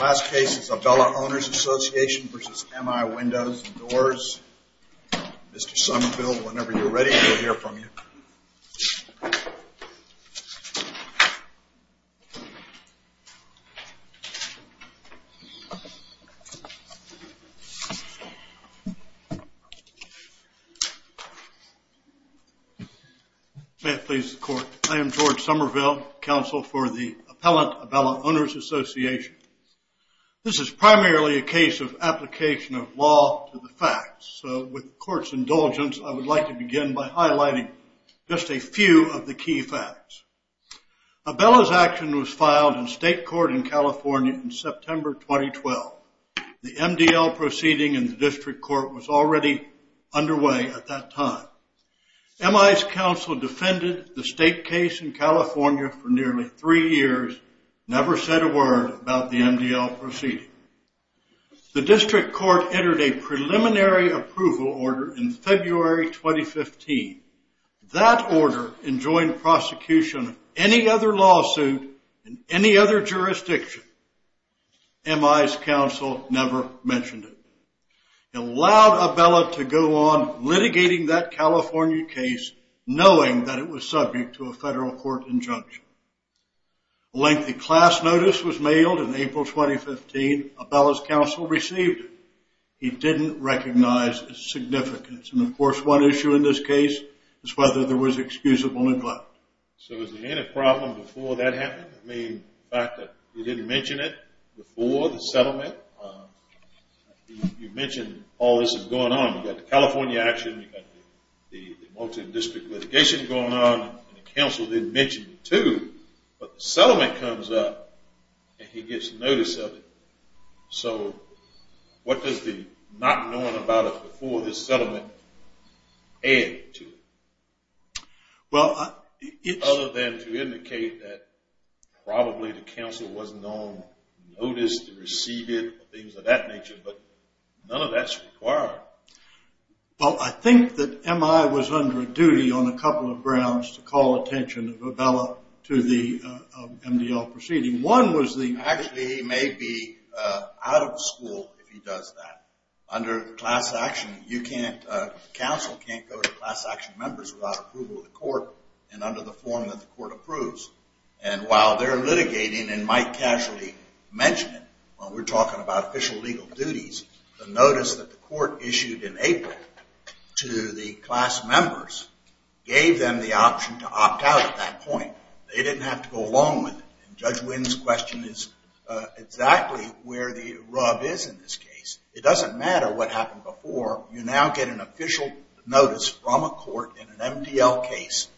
Last case is Abella Owners Association v. MI Windows & Doors. Mr. Somerville, whenever you're ready, we'll hear from you. May it please the court. I am George Somerville, counsel for the appellant Abella Owners Association. This is primarily a case of application of law to the facts. So with the court's indulgence, I would like to begin by highlighting just a few of the key facts. Abella's action was filed in state court in California in September 2012. The MDL proceeding in the district court was already underway at that time. MI's counsel defended the state case in California for nearly three years, never said a word about the MDL proceeding. The district court entered a preliminary approval order in February 2015. That order enjoined prosecution of any other lawsuit in any other jurisdiction. MI's counsel never mentioned it. It allowed Abella to go on litigating that California case knowing that it was subject to a federal court injunction. A lengthy class notice was mailed in April 2015. Abella's counsel received it. He didn't recognize its significance. And of course, one issue in this case is whether there was excusable neglect. So was there any problem before that happened? I mean, the fact that he didn't mention it before the settlement? You mentioned all this is going on. You've got the California action. You've got the multi-district litigation going on. The counsel didn't mention it, too. But the settlement comes up, and he gets notice of it. So what does the not knowing about it before the settlement add to it? Other than to indicate that probably the counsel wasn't on notice to receive it or things of that nature. But none of that's required. Well, I think that MI was under a duty on a couple of grounds to call attention of Abella to the MDL proceeding. Actually, he may be out of school if he does that. Under class action, counsel can't go to class action members without approval of the court and under the form that the court approves. And while they're litigating and might casually mention it when we're talking about official legal duties, the notice that the court issued in April to the class members gave them the option to opt out at that point. They didn't have to go along with it. And Judge Wynn's question is exactly where the rub is in this case. It doesn't matter what happened before. You now get an official notice from a court in an MDL case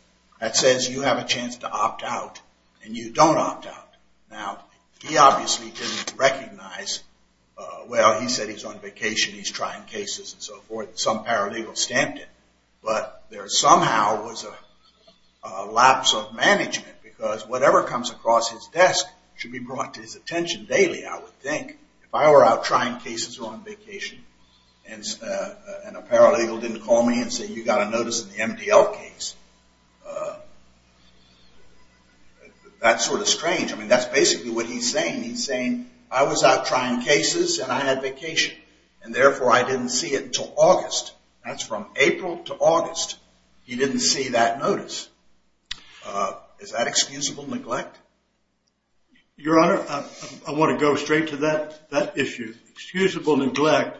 that says you have a chance to opt out and you don't opt out. Now, he obviously didn't recognize, well, he said he's on vacation, he's trying cases and so forth. Some paralegal stamped it. But there somehow was a lapse of management because whatever comes across his desk should be brought to his attention daily, I would think. If I were out trying cases or on vacation and a paralegal didn't call me and say you got a notice in the MDL case, that's sort of strange. I mean, that's basically what he's saying. He's saying I was out trying cases and I had vacation and therefore I didn't see it until August. That's from April to August. He didn't see that notice. Is that excusable neglect? Your Honor, I want to go straight to that issue. Excusable neglect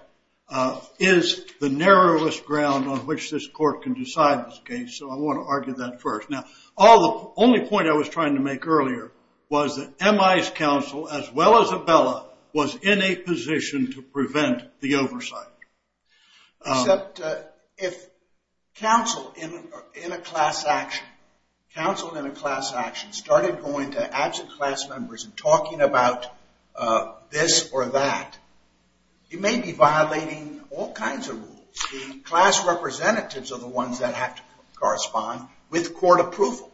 is the narrowest ground on which this court can decide this case, so I want to argue that first. Now, the only point I was trying to make earlier was that MI's counsel, as well as Abella, was in a position to prevent the oversight. Except if counsel in a class action started going to absent class members and talking about this or that, you may be violating all kinds of rules. The class representatives are the ones that have to correspond with court approval.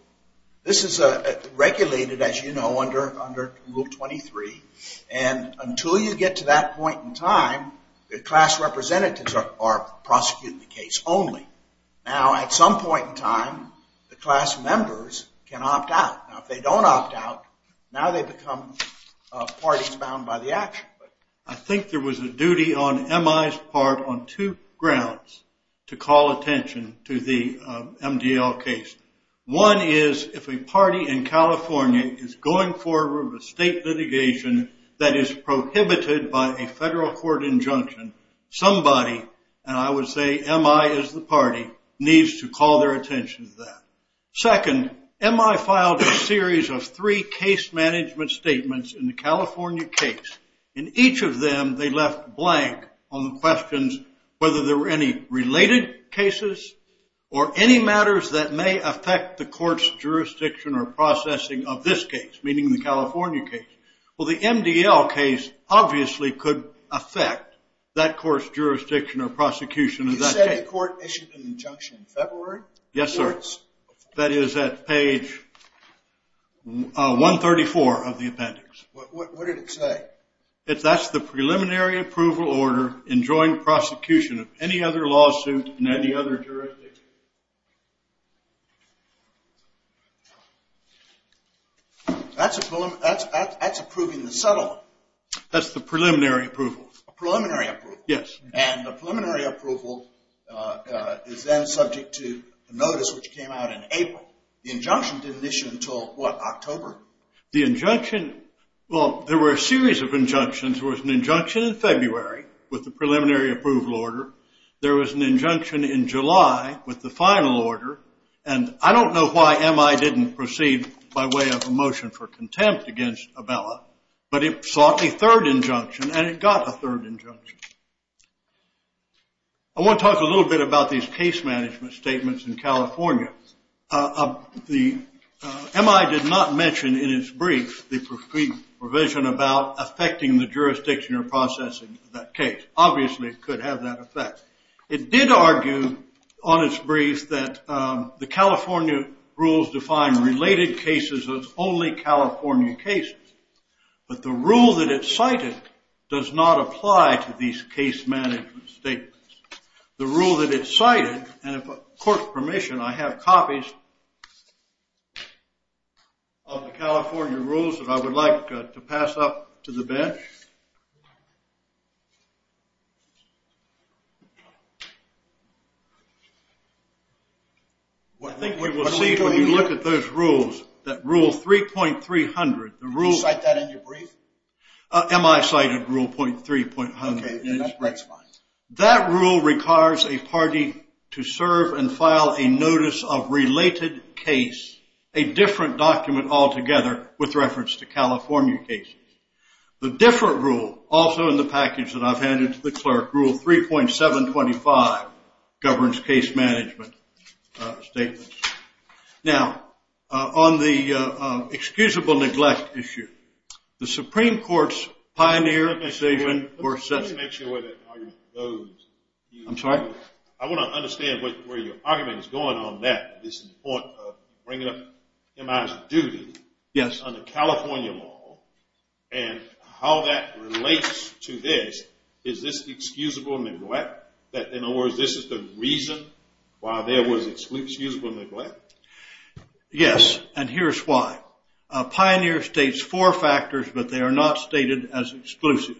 This is regulated, as you know, under Rule 23, and until you get to that point in time, the class representatives are prosecuting the case only. Now, at some point in time, the class members can opt out. Now, if they don't opt out, now they become parties bound by the action. I think there was a duty on MI's part on two grounds to call attention to the MDL case. One is if a party in California is going forward with state litigation that is prohibited by a federal court injunction, somebody, and I would say MI is the party, needs to call their attention to that. Second, MI filed a series of three case management statements in the California case. In each of them, they left blank on the questions whether there were any related cases or any matters that may affect the court's jurisdiction or processing of this case, meaning the California case. Well, the MDL case obviously could affect that court's jurisdiction or prosecution of that case. You said the court issued an injunction in February? Yes, sir. That is at page 134 of the appendix. What did it say? That's the preliminary approval order in joint prosecution of any other lawsuit in any other jurisdiction. That's approving the settlement. That's the preliminary approval. Preliminary approval. Yes. And the preliminary approval is then subject to notice, which came out in April. The injunction didn't issue until, what, October? The injunction, well, there were a series of injunctions. There was an injunction in February with the preliminary approval order. There was an injunction in July with the final order. And I don't know why MI didn't proceed by way of a motion for contempt against Abella, but it sought a third injunction, and it got a third injunction. I want to talk a little bit about these case management statements in California. MI did not mention in its brief the provision about affecting the jurisdiction or processing of that case. Obviously, it could have that effect. It did argue on its brief that the California rules define related cases as only California cases, but the rule that it cited does not apply to these case management statements. The rule that it cited, and if court's permission, I have copies of the California rules that I would like to pass up to the bench. I think we will see, when you look at those rules, that Rule 3.300, the rule... Did you cite that in your brief? MI cited Rule 3.300. Okay. That's fine. That rule requires a party to serve and file a notice of related case, a different document altogether with reference to California cases. The different rule, also in the package that I've handed to the clerk, Rule 3.725, governs case management statements. Now, on the excusable neglect issue, the Supreme Court's pioneer statement... Let me make sure where that argument goes. I'm sorry? I want to understand where your argument is going on that. This is the point of bringing up MI's duty under California law and how that relates to this. Is this excusable neglect? In other words, this is the reason why there was excusable neglect? Yes, and here's why. Pioneer states four factors, but they are not stated as exclusive.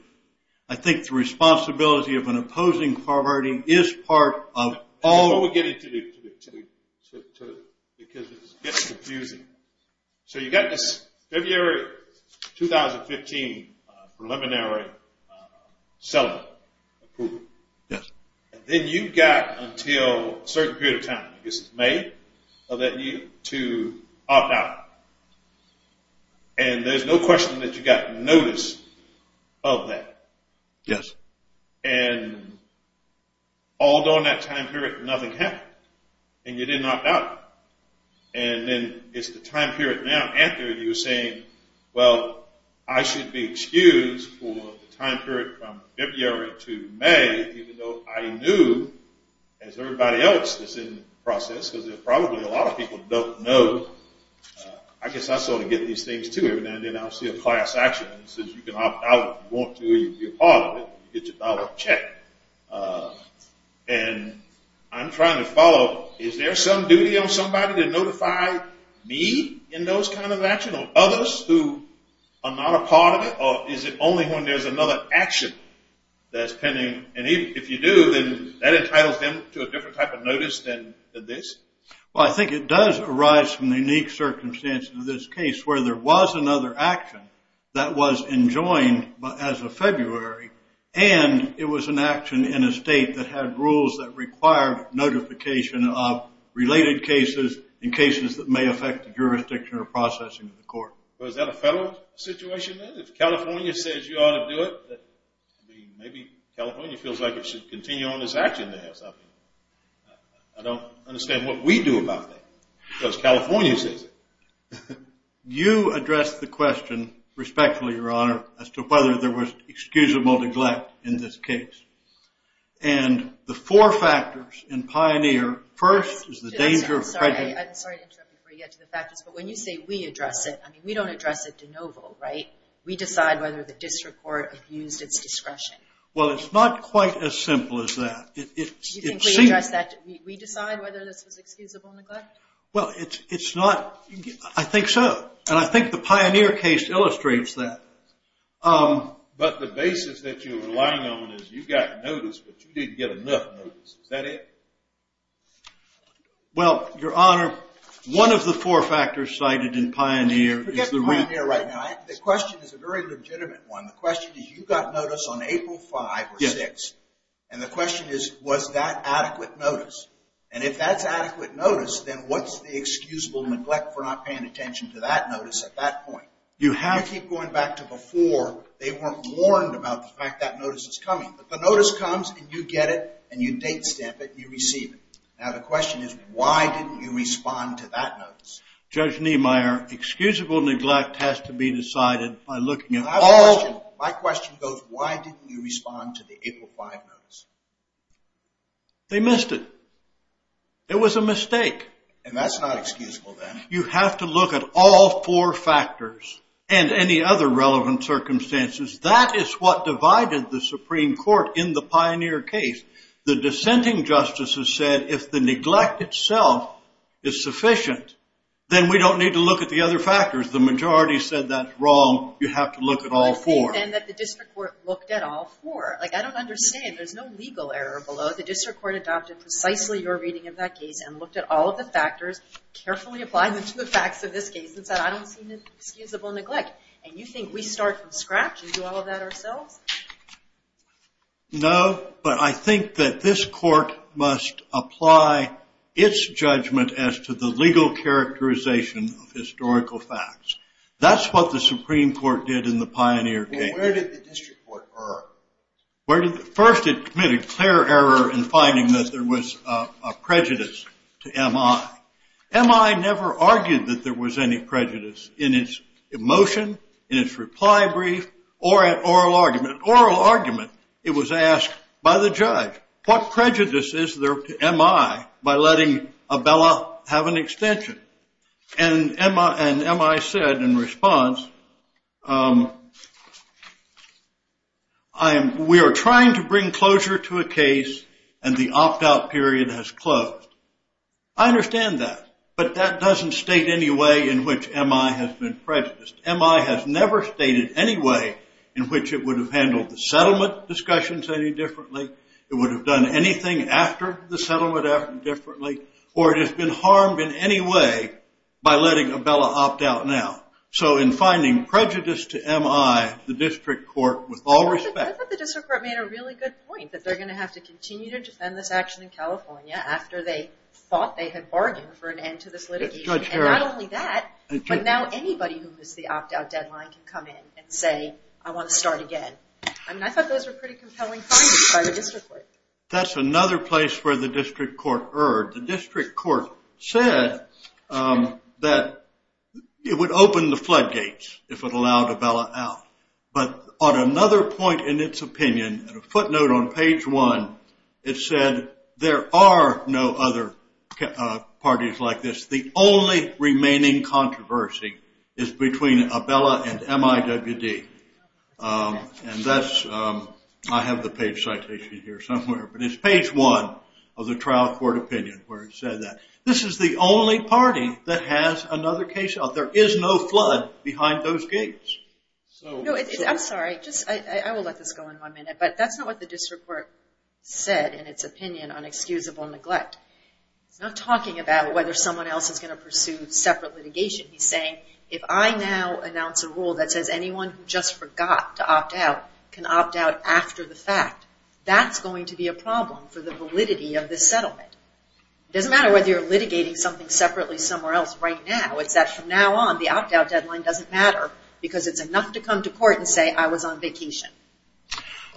I think the responsibility of an opposing party is part of all... Before we get into the... Because this is getting confusing. So you got this February 2015 preliminary settlement approval. Yes. And then you got until a certain period of time, I guess it's May, to opt out. And there's no question that you got notice of that. Yes. And all during that time period, nothing happened. And you didn't opt out. And then it's the time period now. Anthony was saying, well, I should be excused for the time period from February to May, even though I knew, as everybody else that's in the process, because there's probably a lot of people that don't know. I guess I sort of get these things, too. Every now and then I'll see a class action. It says you can opt out if you want to. You can be a part of it. You get your dollar check. And I'm trying to follow. Is there some duty on somebody to notify me in those kind of action or others who are not a part of it? Or is it only when there's another action that's pending? And if you do, then that entitles them to a different type of notice than this? Well, I think it does arise from the unique circumstances of this case where there was another action that was enjoined as of February, and it was an action in a state that had rules that required notification of related cases in cases that may affect the jurisdiction or processing of the court. Well, is that a federal situation then? If California says you ought to do it, maybe California feels like it should continue on its action there. I don't understand what we do about that because California says it. You addressed the question respectfully, Your Honor, as to whether there was excusable neglect in this case. And the four factors in Pioneer, first is the danger of prejudice. I'm sorry to interrupt you before you get to the factors, but when you say we address it, I mean, we don't address it de novo, right? We decide whether the district court abused its discretion. Well, it's not quite as simple as that. Do you think we decide whether this was excusable neglect? Well, it's not. I think so. And I think the Pioneer case illustrates that. But the basis that you're relying on is you got notice, but you didn't get enough notice. Is that it? Well, Your Honor, one of the four factors cited in Pioneer is the... Forget Pioneer right now. The question is a very legitimate one. The question is you got notice on April 5 or 6, and the question is, was that adequate notice? And if that's adequate notice, then what's the excusable neglect for not paying attention to that notice at that point? You keep going back to before. They weren't warned about the fact that notice is coming. But the notice comes, and you get it, and you date stamp it, and you receive it. Now, the question is, why didn't you respond to that notice? Judge Niemeyer, excusable neglect has to be decided by looking at all... My question goes, why didn't you respond to the April 5 notice? They missed it. It was a mistake. And that's not excusable, then. You have to look at all four factors and any other relevant circumstances. That is what divided the Supreme Court in the Pioneer case. The dissenting justices said if the neglect itself is sufficient, then we don't need to look at the other factors. The majority said that's wrong. You have to look at all four. I think, then, that the district court looked at all four. Like, I don't understand. There's no legal error below. So the district court adopted precisely your reading of that case and looked at all of the factors, carefully applied them to the facts of this case, and said, I don't see any excusable neglect. And you think we start from scratch and do all of that ourselves? No, but I think that this court must apply its judgment as to the legal characterization of historical facts. That's what the Supreme Court did in the Pioneer case. Well, where did the district court err? First, it committed clear error in finding that there was a prejudice to M.I. M.I. never argued that there was any prejudice in its emotion, in its reply brief, or at oral argument. At oral argument, it was asked by the judge, what prejudice is there to M.I. by letting Abella have an extension? And M.I. said in response, we are trying to bring closure to a case and the opt-out period has closed. I understand that, but that doesn't state any way in which M.I. has been prejudiced. M.I. has never stated any way in which it would have handled the settlement discussions any differently, it would have done anything after the settlement differently, or it has been harmed in any way by letting Abella opt out now. So in finding prejudice to M.I., the district court with all respect... I thought the district court made a really good point, that they're going to have to continue to defend this action in California after they thought they had bargained for an end to this litigation. And not only that, but now anybody who missed the opt-out deadline can come in and say, I want to start again. I mean, I thought those were pretty compelling findings by the district court. That's another place where the district court erred. The district court said that it would open the floodgates if it allowed Abella out. But on another point in its opinion, at a footnote on page one, it said there are no other parties like this. The only remaining controversy is between Abella and M.I.W.D. And I have the page citation here somewhere, but it's page one of the trial court opinion where it said that. This is the only party that has another case out. There is no flood behind those gates. I'm sorry, I will let this go in one minute, but that's not what the district court said in its opinion on excusable neglect. It's not talking about whether someone else is going to pursue separate litigation. It's saying, if I now announce a rule that says anyone who just forgot to opt out can opt out after the fact, that's going to be a problem for the validity of this settlement. It doesn't matter whether you're litigating something separately somewhere else right now. It's that from now on, the opt-out deadline doesn't matter because it's enough to come to court and say, I was on vacation.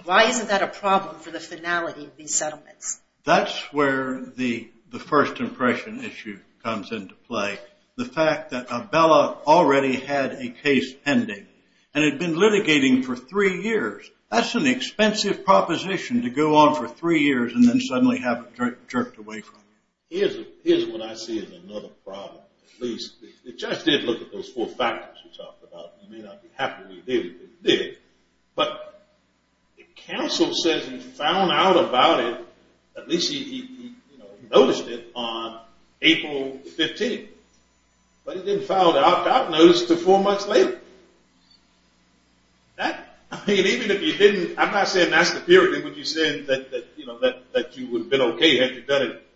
Why isn't that a problem for the finality of these settlements? That's where the first impression issue comes into play. The fact that Abella already had a case pending and had been litigating for three years. That's an expensive proposition to go on for three years and then suddenly have it jerked away from you. Here's what I see as another problem. The judge did look at those four factors we talked about. He may not be happy with what he did, but he did. But he didn't file the opt-out notice until four months later. I'm not saying that's the period that you said that you would have been okay had you done it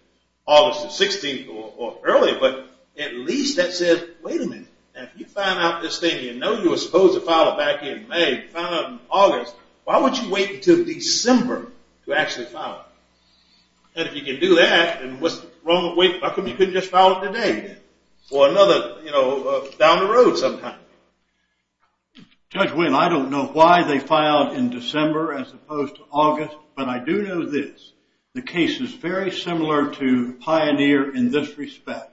August the 16th or earlier, but at least that said, wait a minute. If you find out this thing, you know you were supposed to file it back in May. You found out in August. Why would you wait until December to actually file it? And if you can do that, then what's wrong with waiting? How come you couldn't just file it today or another, you know, down the road sometime? Judge Wynne, I don't know why they filed in December as opposed to August, but I do know this. The case is very similar to Pioneer in this respect.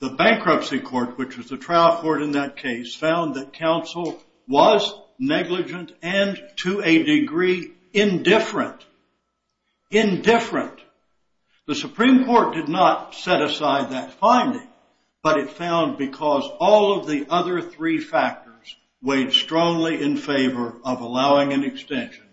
The bankruptcy court, which was the trial court in that case, found that counsel was negligent and to a degree indifferent. Indifferent. The Supreme Court did not set aside that finding, but it found because all of the other three factors weighed strongly in favor of allowing an extension,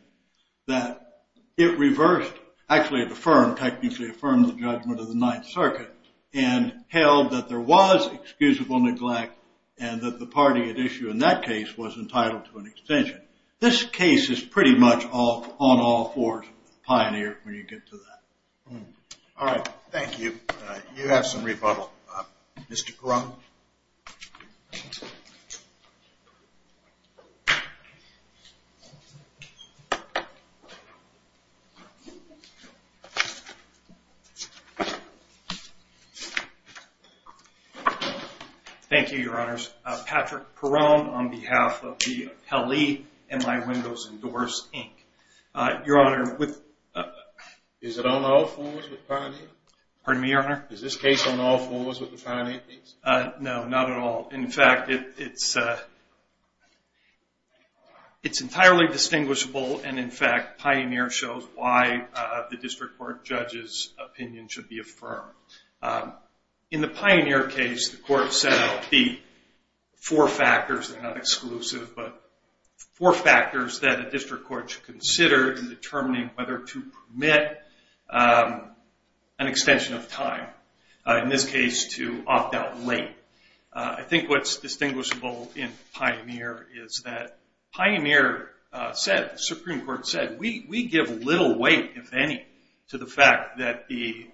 that it reversed, actually it affirmed, technically affirmed the judgment of the Ninth Circuit and held that there was excusable neglect and that the party at issue in that case was entitled to an extension. This case is pretty much on all fours with Pioneer when you get to that. All right. Thank you. You have some rebuttal. Mr. Perone. Thank you, Your Honors. Patrick Perone on behalf of the Helly MI Windows and Doors, Inc. Your Honor, with- Is it on all fours with Pioneer? Pardon me, Your Honor? Is this case on all fours with the Pioneer case? No, not at all. In fact, it's entirely distinguishable, and in fact, Pioneer shows why the district court judge's opinion should be affirmed. In the Pioneer case, the court set out the four factors that are not exclusive, but four factors that a district court should consider in determining whether to permit an extension of time, in this case, to opt out late. I think what's distinguishable in Pioneer is that Pioneer said, the Supreme Court said, we give little weight, if any, to the fact that the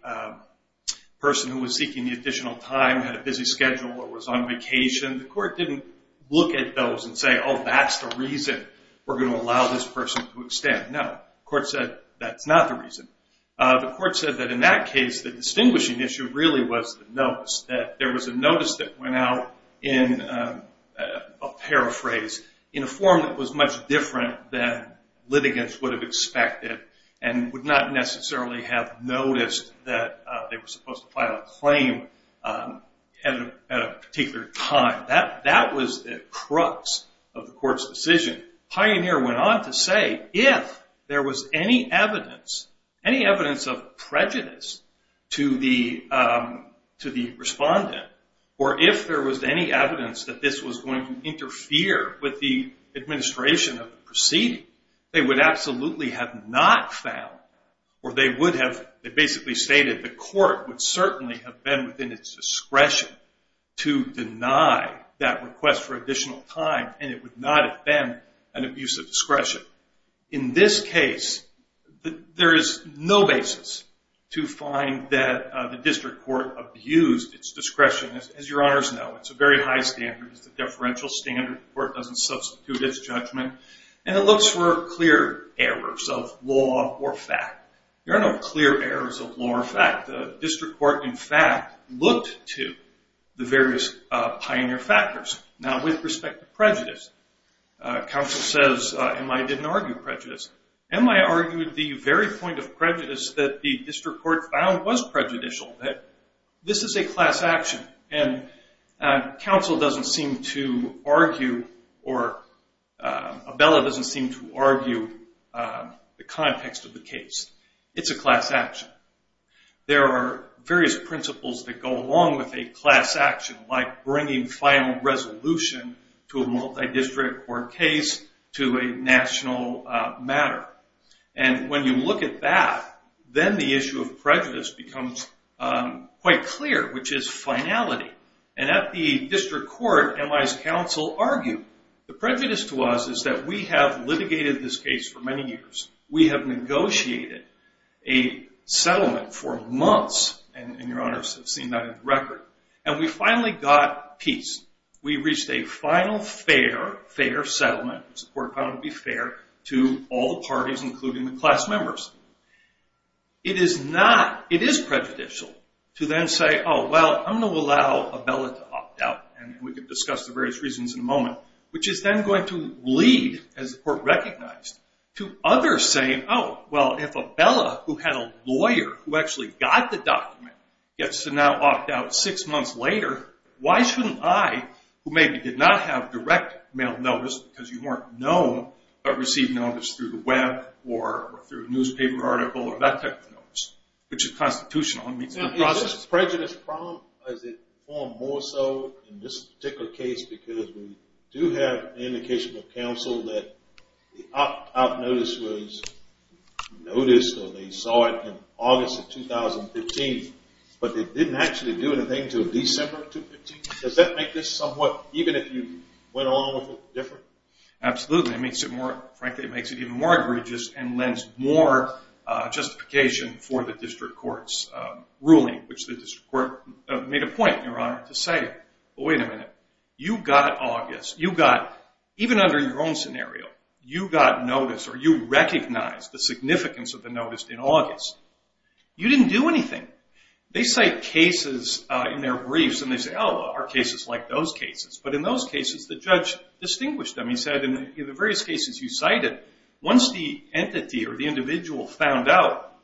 person who was seeking the additional time had a busy schedule or was on vacation. The court didn't look at those and say, oh, that's the reason we're going to allow this person to extend. No, the court said that's not the reason. The court said that in that case, the distinguishing issue really was the notice, that there was a notice that went out in, I'll paraphrase, in a form that was much different than litigants would have expected and would not necessarily have noticed that they were supposed to file a claim at a particular time. That was the crux of the court's decision. Pioneer went on to say, if there was any evidence, any evidence of prejudice to the respondent, or if there was any evidence that this was going to interfere with the administration of the proceeding, they would absolutely have not found, or they would have basically stated, the court would certainly have been within its discretion to deny that request for additional time, and it would not have been an abuse of discretion. In this case, there is no basis to find that the district court abused its discretion. As your honors know, it's a very high standard. It's a deferential standard. The court doesn't substitute its judgment, and it looks for clear errors of law or fact. There are no clear errors of law or fact. The district court, in fact, looked to the various pioneer factors. Now, with respect to prejudice, counsel says, M.I. didn't argue prejudice. M.I. argued the very point of prejudice that the district court found was prejudicial, that this is a class action, and counsel doesn't seem to argue, or Abella doesn't seem to argue the context of the case. It's a class action. There are various principles that go along with a class action, like bringing final resolution to a multi-district court case to a national matter. And when you look at that, then the issue of prejudice becomes quite clear, which is finality. And at the district court, M.I.'s counsel argued, the prejudice to us is that we have litigated this case for many years. We have negotiated a settlement for months, and your honors have seen that in the record, and we finally got peace. We reached a final fair, fair settlement, which the court found to be fair, to all the parties, including the class members. It is prejudicial to then say, oh, well, I'm going to allow Abella to opt out, and we can discuss the various reasons in a moment, which is then going to lead, as the court recognized, to others saying, oh, well, if Abella, who had a lawyer who actually got the document, gets to now opt out six months later, why shouldn't I, who maybe did not have direct mail notice because you weren't known, but received notice through the web or through a newspaper article or that type of notice, which is constitutional and meets the process. Is prejudice a problem, or is it more so in this particular case, because we do have indications of counsel that the opt-out notice was noticed or they saw it in August of 2015, but they didn't actually do anything until December of 2015? Does that make this somewhat, even if you went along with it, different? Absolutely. It makes it more, frankly, it makes it even more egregious and lends more justification for the district court's ruling, which the district court made a point, Your Honor, to say, well, wait a minute. You got August. You got, even under your own scenario, you got notice or you recognized the significance of the notice in August. You didn't do anything. They cite cases in their briefs, and they say, oh, well, our case is like those cases, but in those cases the judge distinguished them. He said in the various cases you cited, once the entity or the individual found out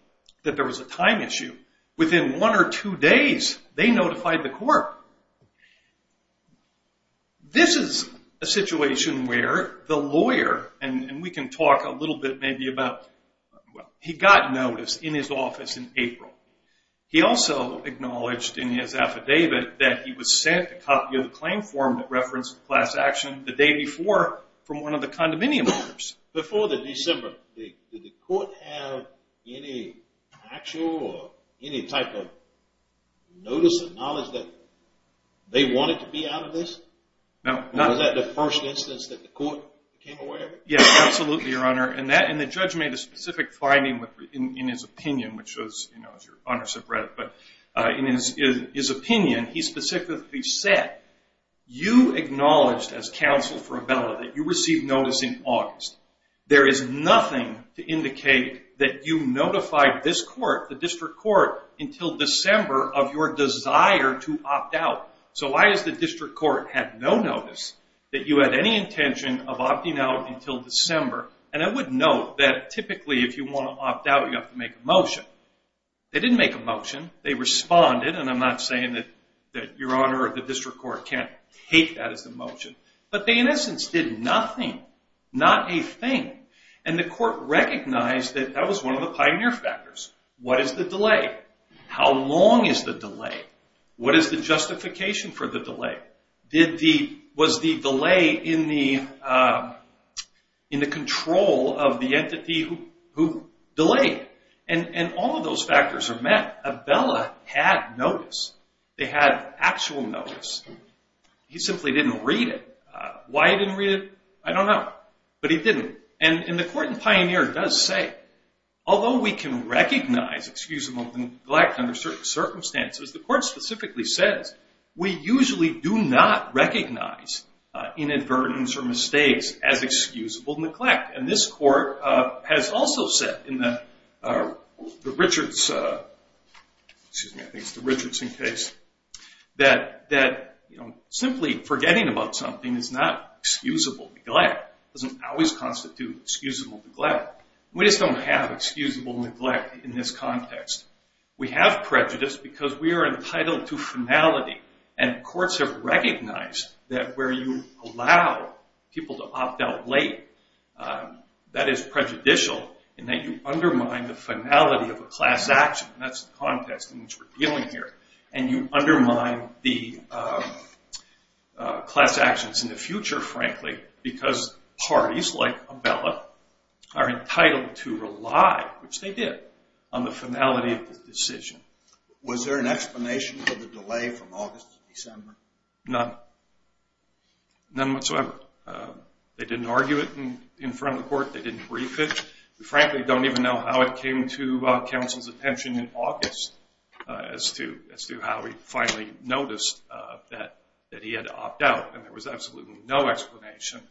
that there was a time issue, within one or two days they notified the court. This is a situation where the lawyer, and we can talk a little bit maybe about, he got notice in his office in April. He also acknowledged in his affidavit that he was sent a copy of the claim form that referenced class action the day before from one of the condominium owners. Before the December, did the court have any actual or any type of notice or knowledge that they wanted to be out of this? No. Was that the first instance that the court came aware of it? Yes, absolutely, Your Honor, and the judge made a specific finding in his opinion, which was, you know, as your honors have read it, in his opinion he specifically said, you acknowledged as counsel for Abella that you received notice in August. There is nothing to indicate that you notified this court, the district court, until December of your desire to opt out. So why does the district court have no notice that you had any intention of opting out until December? And I would note that typically if you want to opt out you have to make a motion. They didn't make a motion, they responded, and I'm not saying that Your Honor or the district court can't take that as a motion, but they in essence did nothing, not a thing, and the court recognized that that was one of the pioneer factors. What is the delay? How long is the delay? What is the justification for the delay? Was the delay in the control of the entity who delayed? And all of those factors are met. Abella had notice. They had actual notice. He simply didn't read it. Why he didn't read it, I don't know, but he didn't. And the court in Pioneer does say, although we can recognize excusable neglect under certain circumstances, the court specifically says, we usually do not recognize inadvertence or mistakes as excusable neglect, and this court has also said in the Richards, excuse me, I think it's the Richards case, that simply forgetting about something is not excusable neglect. It doesn't always constitute excusable neglect. We just don't have excusable neglect in this context. We have prejudice because we are entitled to finality, and courts have recognized that where you allow people to opt out late, that is prejudicial in that you undermine the finality of a class action, and that's the context in which we're dealing here, and you undermine the class actions in the future, frankly, because parties like Abella are entitled to rely, which they did, on the finality of the decision. Was there an explanation for the delay from August to December? None. None whatsoever. They didn't argue it in front of the court. They didn't brief it. We frankly don't even know how it came to counsel's attention in August as to how he finally noticed that he had to opt out, and there was absolutely no explanation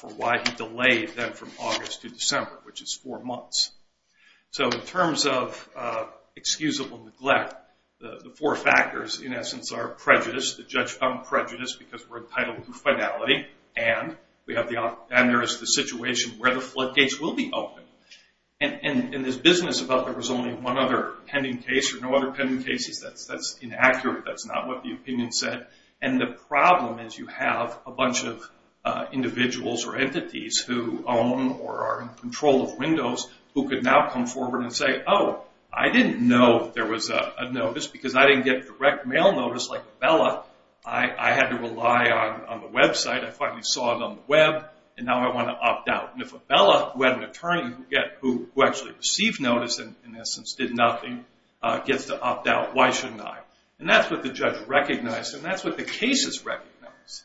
for why he delayed that from August to December, which is four months. So in terms of excusable neglect, the four factors in essence are prejudice, the judge found prejudice because we're entitled to finality, and there is the situation where the floodgates will be open. In this business about there was only one other pending case or no other pending cases, that's inaccurate. That's not what the opinion said, and the problem is you have a bunch of individuals or entities who own or are in control of windows who could now come forward and say, oh, I didn't know there was a notice because I didn't get direct mail notice like Abella. I had to rely on the website. I finally saw it on the web, and now I want to opt out. And if Abella, who had an attorney who actually received notice and in essence did nothing, gets to opt out, why shouldn't I? And that's what the judge recognized, and that's what the cases recognized.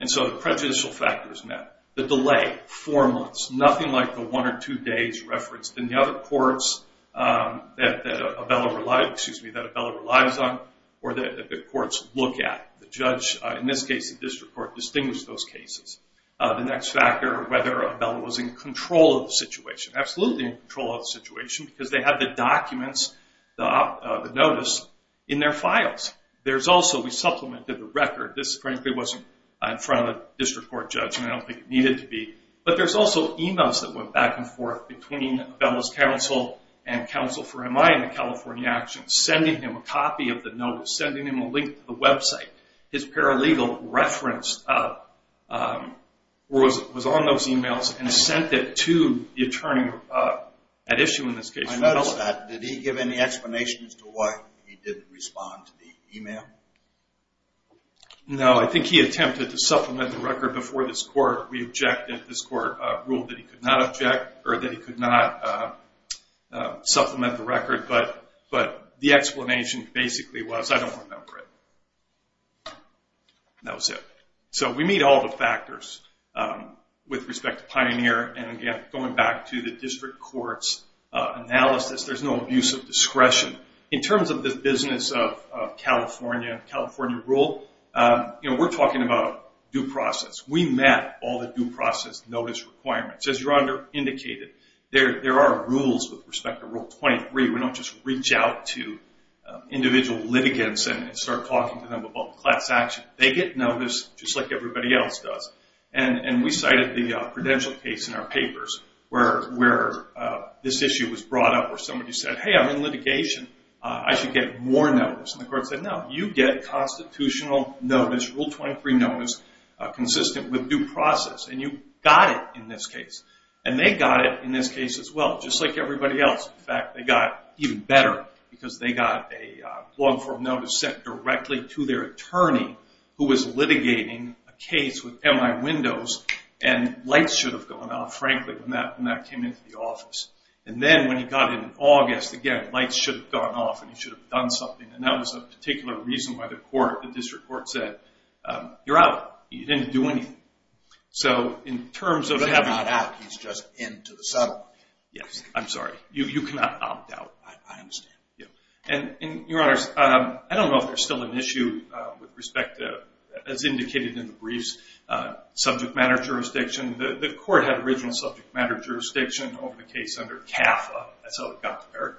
And so the prejudicial factors met. The delay, four months, nothing like the one or two days referenced in the other courts that Abella relies on or that the courts look at. The judge, in this case the district court, distinguished those cases. The next factor, whether Abella was in control of the situation. Absolutely in control of the situation because they had the documents, the notice, in their files. There's also, we supplemented the record. This frankly wasn't in front of a district court judge, and I don't think it needed to be. But there's also emails that went back and forth between Abella's counsel and counsel for MI in the California actions, sending him a copy of the notice, sending him a link to the website. His paralegal referenced or was on those emails and sent it to the attorney at issue in this case. I noticed that. Did he give any explanations to why he didn't respond to the email? No. I think he attempted to supplement the record before this court. We objected. This court ruled that he could not object or that he could not supplement the record. But the explanation basically was, I don't remember it. That was it. So we meet all the factors with respect to Pioneer. And again, going back to the district court's analysis, there's no abuse of discretion. In terms of the business of California, California rule, we're talking about due process. We met all the due process notice requirements. As your honor indicated, there are rules with respect to Rule 23. We don't just reach out to individual litigants and start talking to them about class action. They get notice just like everybody else does. And we cited the credential case in our papers where this issue was brought up where somebody said, hey, I'm in litigation. I should get more notice. And the court said, no, you get constitutional notice, Rule 23 notice, consistent with due process. And you got it in this case. And they got it in this case as well, just like everybody else. In fact, they got even better because they got a long-form notice sent directly to their attorney who was litigating a case with MI Windows. And lights should have gone out, frankly, when that came into the office. And then when he got it in August, again, lights should have gone off and he should have done something. And that was a particular reason why the district court said, you're out. You didn't do anything. If you're not out, he's just in to the sub. Yes, I'm sorry. You cannot opt out. I understand. And your honors, I don't know if there's still an issue with respect to, as indicated in the briefs, subject matter jurisdiction. The court had original subject matter jurisdiction over the case under CAFA. That's how it got there.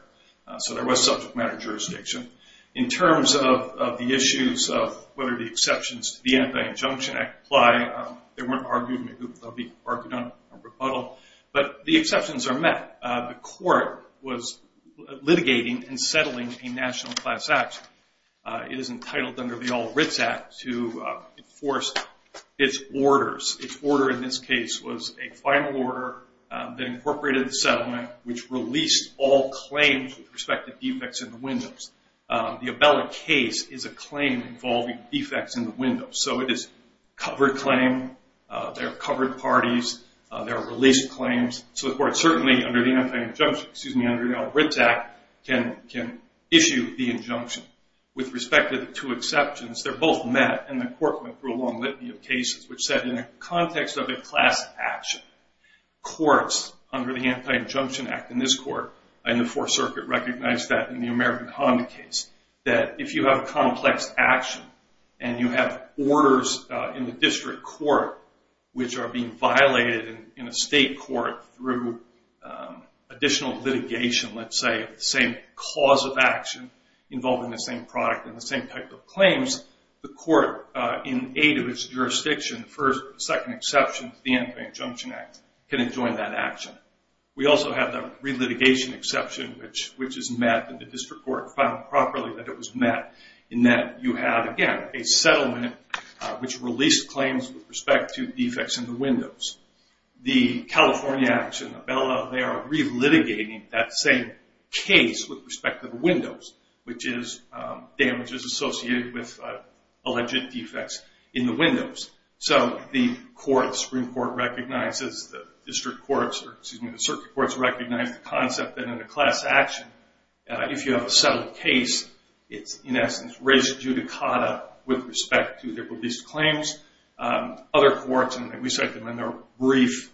So there was subject matter jurisdiction. In terms of the issues of whether the exceptions to the Anti-Injunction Act apply, they weren't argued. Maybe they'll be argued on a rebuttal. But the exceptions are met. The court was litigating and settling a national class act. It is entitled under the All Writs Act to enforce its orders. Its order in this case was a final order that incorporated the settlement, which released all claims with respect to defects in the windows. The Abella case is a claim involving defects in the windows. So it is a covered claim. There are covered parties. There are released claims. So the court certainly, under the All Writs Act, can issue the injunction. With respect to the two exceptions, they're both met, and the court went through a long litany of cases, which said in the context of a class action, courts under the Anti-Injunction Act in this court, in the Fourth Circuit, recognized that in the American Honda case, that if you have a complex action and you have orders in the district court which are being violated in a state court through additional litigation, let's say, of the same cause of action involving the same product and the same type of claims, the court, in aid of its jurisdiction for a second exception to the Anti-Injunction Act, can enjoin that action. We also have the relitigation exception, which is met and the district court found properly that it was met, in that you have, again, a settlement which released claims with respect to defects in the windows. The California action, the Abella, they are relitigating that same case with respect to the windows, which is damages associated with alleged defects in the windows. So the Supreme Court recognizes, the circuit courts recognize, the concept that in a class action, if you have a settled case, it's in essence res judicata with respect to the released claims. Other courts, and we cite them in their brief,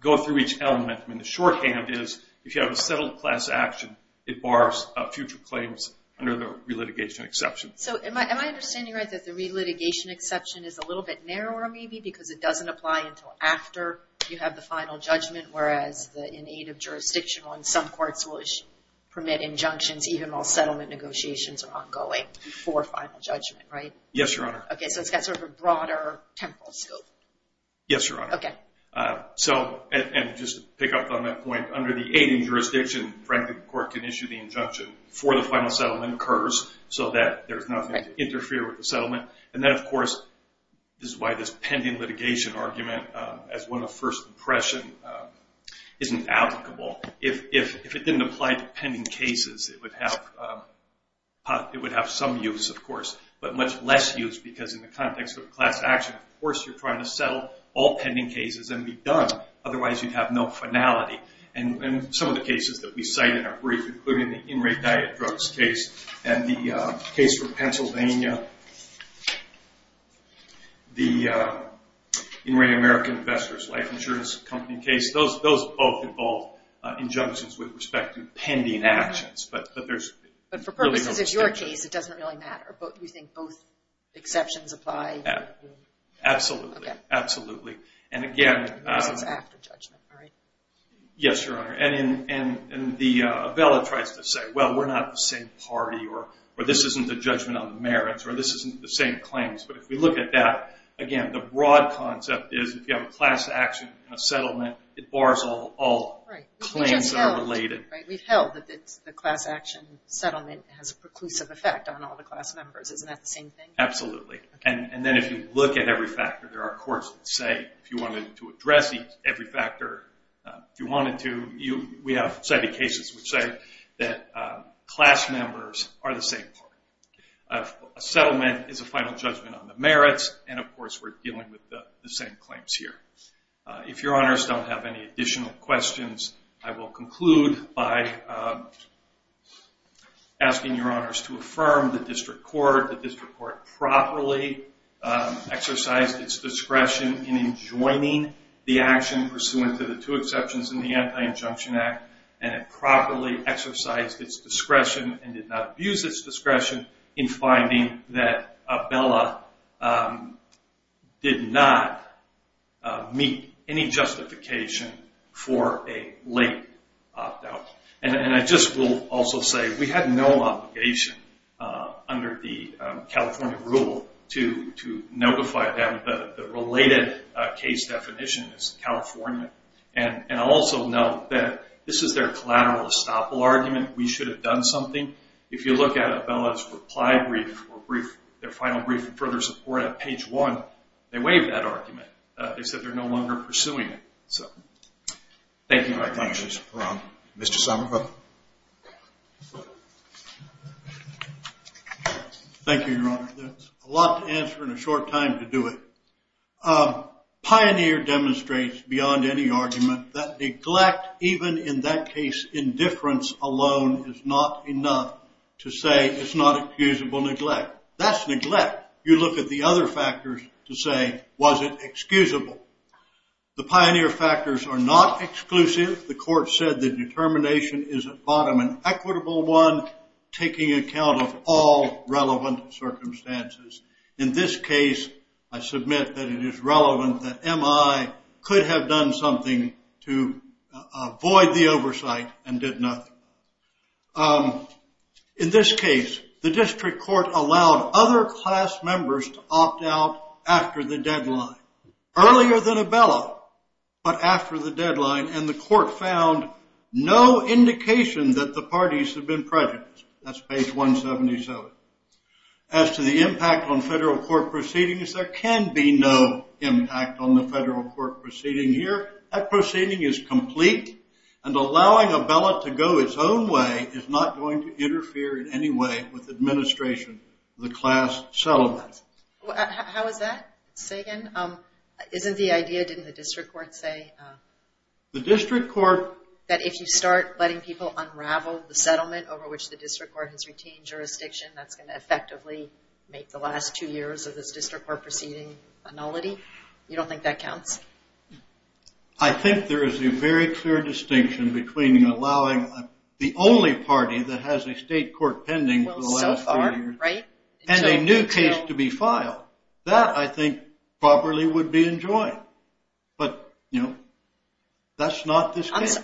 go through each element. The shorthand is, if you have a settled class action, it bars future claims under the relitigation exception. Am I understanding right that the relitigation exception is a little bit narrower maybe because it doesn't apply until after you have the final judgment, whereas in aid of jurisdiction, some courts will permit injunctions even while settlement negotiations are ongoing before final judgment, right? Yes, Your Honor. Okay, so it's got sort of a broader temporal scope. Yes, Your Honor. Okay. So, and just to pick up on that point, under the aid of jurisdiction, frankly, the court can issue the injunction before the final settlement occurs so that there's nothing to interfere with the settlement. And then, of course, this is why this pending litigation argument, as one of first impression, isn't applicable. If it didn't apply to pending cases, it would have some use, of course, but much less use because in the context of class action, of course you're trying to settle all pending cases and be done. Otherwise, you'd have no finality. And some of the cases that we cite in our brief, including the in-rate diet drugs case and the case for Pennsylvania, the in-rate American investors life insurance company case, those both involve injunctions with respect to pending actions. But there's really no distinction. But for purposes of your case, it doesn't really matter. Do you think both exceptions apply? Absolutely. Okay. Absolutely. And, again, This is after judgment, right? Yes, Your Honor. And the abella tries to say, well, we're not the same party, or this isn't a judgment on the merits, or this isn't the same claims. But if we look at that, again, the broad concept is if you have a class action and a settlement, it bars all claims that are related. Right. We've held that the class action settlement has a preclusive effect on all the class members. Isn't that the same thing? Absolutely. And then if you look at every factor, there are courts that say, if you wanted to address every factor, if you wanted to, we have cited cases which say that class members are the same party. A settlement is a final judgment on the merits, and, of course, we're dealing with the same claims here. If Your Honors don't have any additional questions, I will conclude by asking Your Honors to affirm the district court, the district court properly exercised its discretion in enjoining the action pursuant to the two exceptions in the Anti-Injunction Act, and it properly exercised its discretion and did not abuse its discretion in finding that abella did not meet any justification for a late opt-out. And I just will also say we had no obligation under the California rule to notify them that the related case definition is California. And I'll also note that this is their collateral estoppel argument, we should have done something. If you look at abella's reply brief or their final brief for further support at page one, they waive that argument. They said they're no longer pursuing it. So thank you very much. Thank you, Mr. Perron. Mr. Somerville. Thank you, Your Honor. There's a lot to answer in a short time to do it. Pioneer demonstrates beyond any argument that neglect, even in that case indifference alone, is not enough to say it's not excusable neglect. That's neglect. You look at the other factors to say, was it excusable? The pioneer factors are not exclusive. The court said the determination is at bottom an equitable one, taking account of all relevant circumstances. In this case, I submit that it is relevant that MI could have done something to avoid the oversight and did nothing. In this case, the district court allowed other class members to opt out after the deadline. Earlier than abella, but after the deadline, and the court found no indication that the parties have been prejudiced. That's page 177. As to the impact on federal court proceedings, there can be no impact on the federal court proceeding here. That proceeding is complete, and allowing abella to go its own way is not going to interfere in any way with administration of the class settlement. How is that, Sagan? Isn't the idea, didn't the district court say? The district court. That if you start letting people unravel the settlement over which the district court has retained jurisdiction, that's going to effectively make the last two years of this district court proceeding a nullity. You don't think that counts? I think there is a very clear distinction between allowing the only party that has a state court pending for the last three years and a new case to be filed. That, I think, probably would be enjoined. But, you know, that's not this case.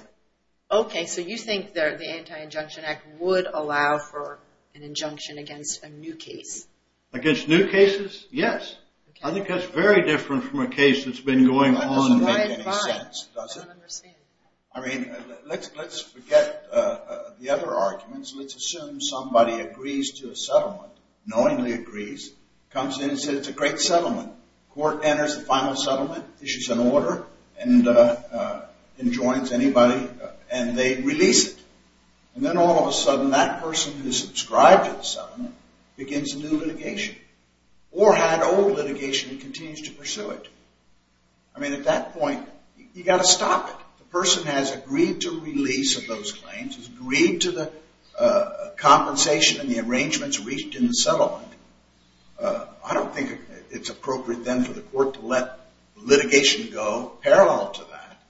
Okay, so you think the Anti-Injunction Act would allow for an injunction against a new case? Against new cases, yes. I think that's very different from a case that's been going on. That doesn't quite make any sense, does it? I don't understand. I mean, let's forget the other arguments. Let's assume somebody agrees to a settlement, knowingly agrees, comes in and says it's a great settlement. Court enters the final settlement, issues an order, and enjoins anybody, and they release it. And then all of a sudden, that person who subscribed to the settlement begins a new litigation. Or had old litigation and continues to pursue it. I mean, at that point, you've got to stop it. The person has agreed to release of those claims, has agreed to the compensation and the arrangements reached in the settlement. I don't think it's appropriate then for the court to let litigation go parallel to that.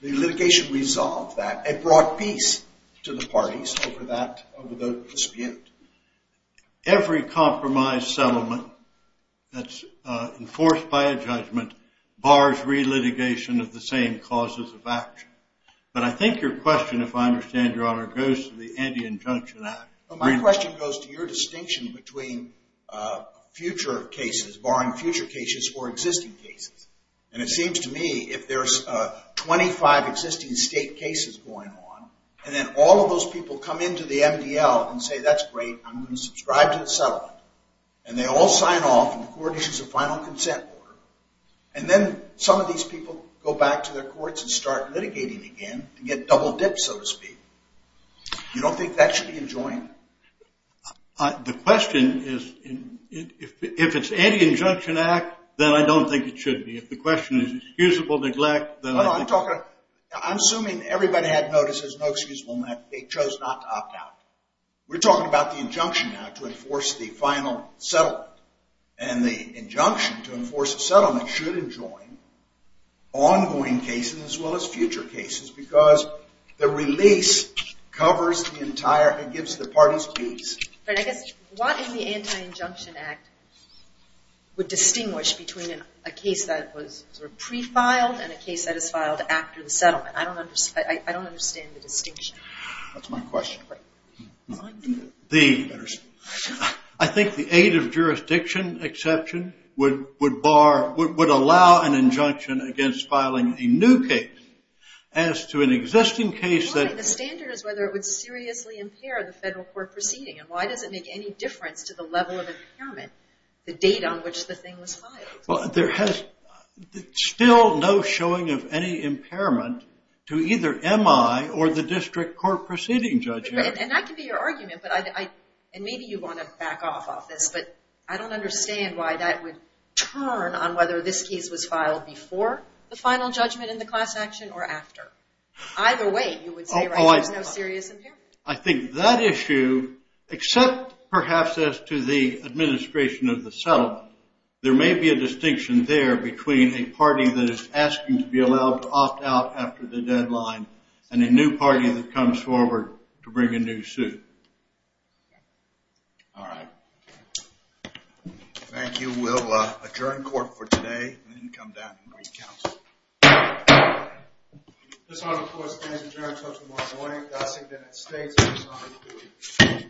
The litigation resolved that. It brought peace to the parties over the dispute. Every compromise settlement that's enforced by a judgment bars re-litigation of the same causes of action. But I think your question, if I understand Your Honor, goes to the Anti-Injunction Act. My question goes to your distinction between future cases, barring future cases, or existing cases. And it seems to me, if there's 25 existing state cases going on, and then all of those people come into the MDL and say, that's great, I'm going to subscribe to the settlement. And they all sign off and the court issues a final consent order. And then some of these people go back to their courts and start litigating again to get double-dipped, so to speak. You don't think that should be enjoined? The question is, if it's Anti-Injunction Act, then I don't think it should be. If the question is excusable neglect, then I think it should be. I'm assuming everybody had notice there's no excusable neglect. They chose not to opt out. We're talking about the injunction now to enforce the final settlement. And the injunction to enforce a settlement should enjoin ongoing cases as well as future cases because the release covers the entire and gives the parties peace. What in the Anti-Injunction Act would distinguish between a case that was pre-filed and a case that is filed after the settlement? I don't understand the distinction. That's my question. I think the aid of jurisdiction exception would allow an injunction against filing a new case as to an existing case. The standard is whether it would seriously impair the federal court proceeding. And why does it make any difference to the level of impairment, the date on which the thing was filed? There is still no showing of any impairment to either MI or the district court proceeding judge. And that could be your argument. And maybe you want to back off of this, but I don't understand why that would turn on whether this case was filed before the final judgment in the class action or after. Either way, you would say there's no serious impairment. I think that issue, except perhaps as to the administration of the settlement, there may be a distinction there between a party that is asking to be allowed to opt out after the deadline and a new party that comes forward to bring a new suit. All right. Thank you. We'll adjourn court for today and then come back and re-counsel. This honor, of course, stands adjourned until tomorrow morning. God save the United States and this honor to you.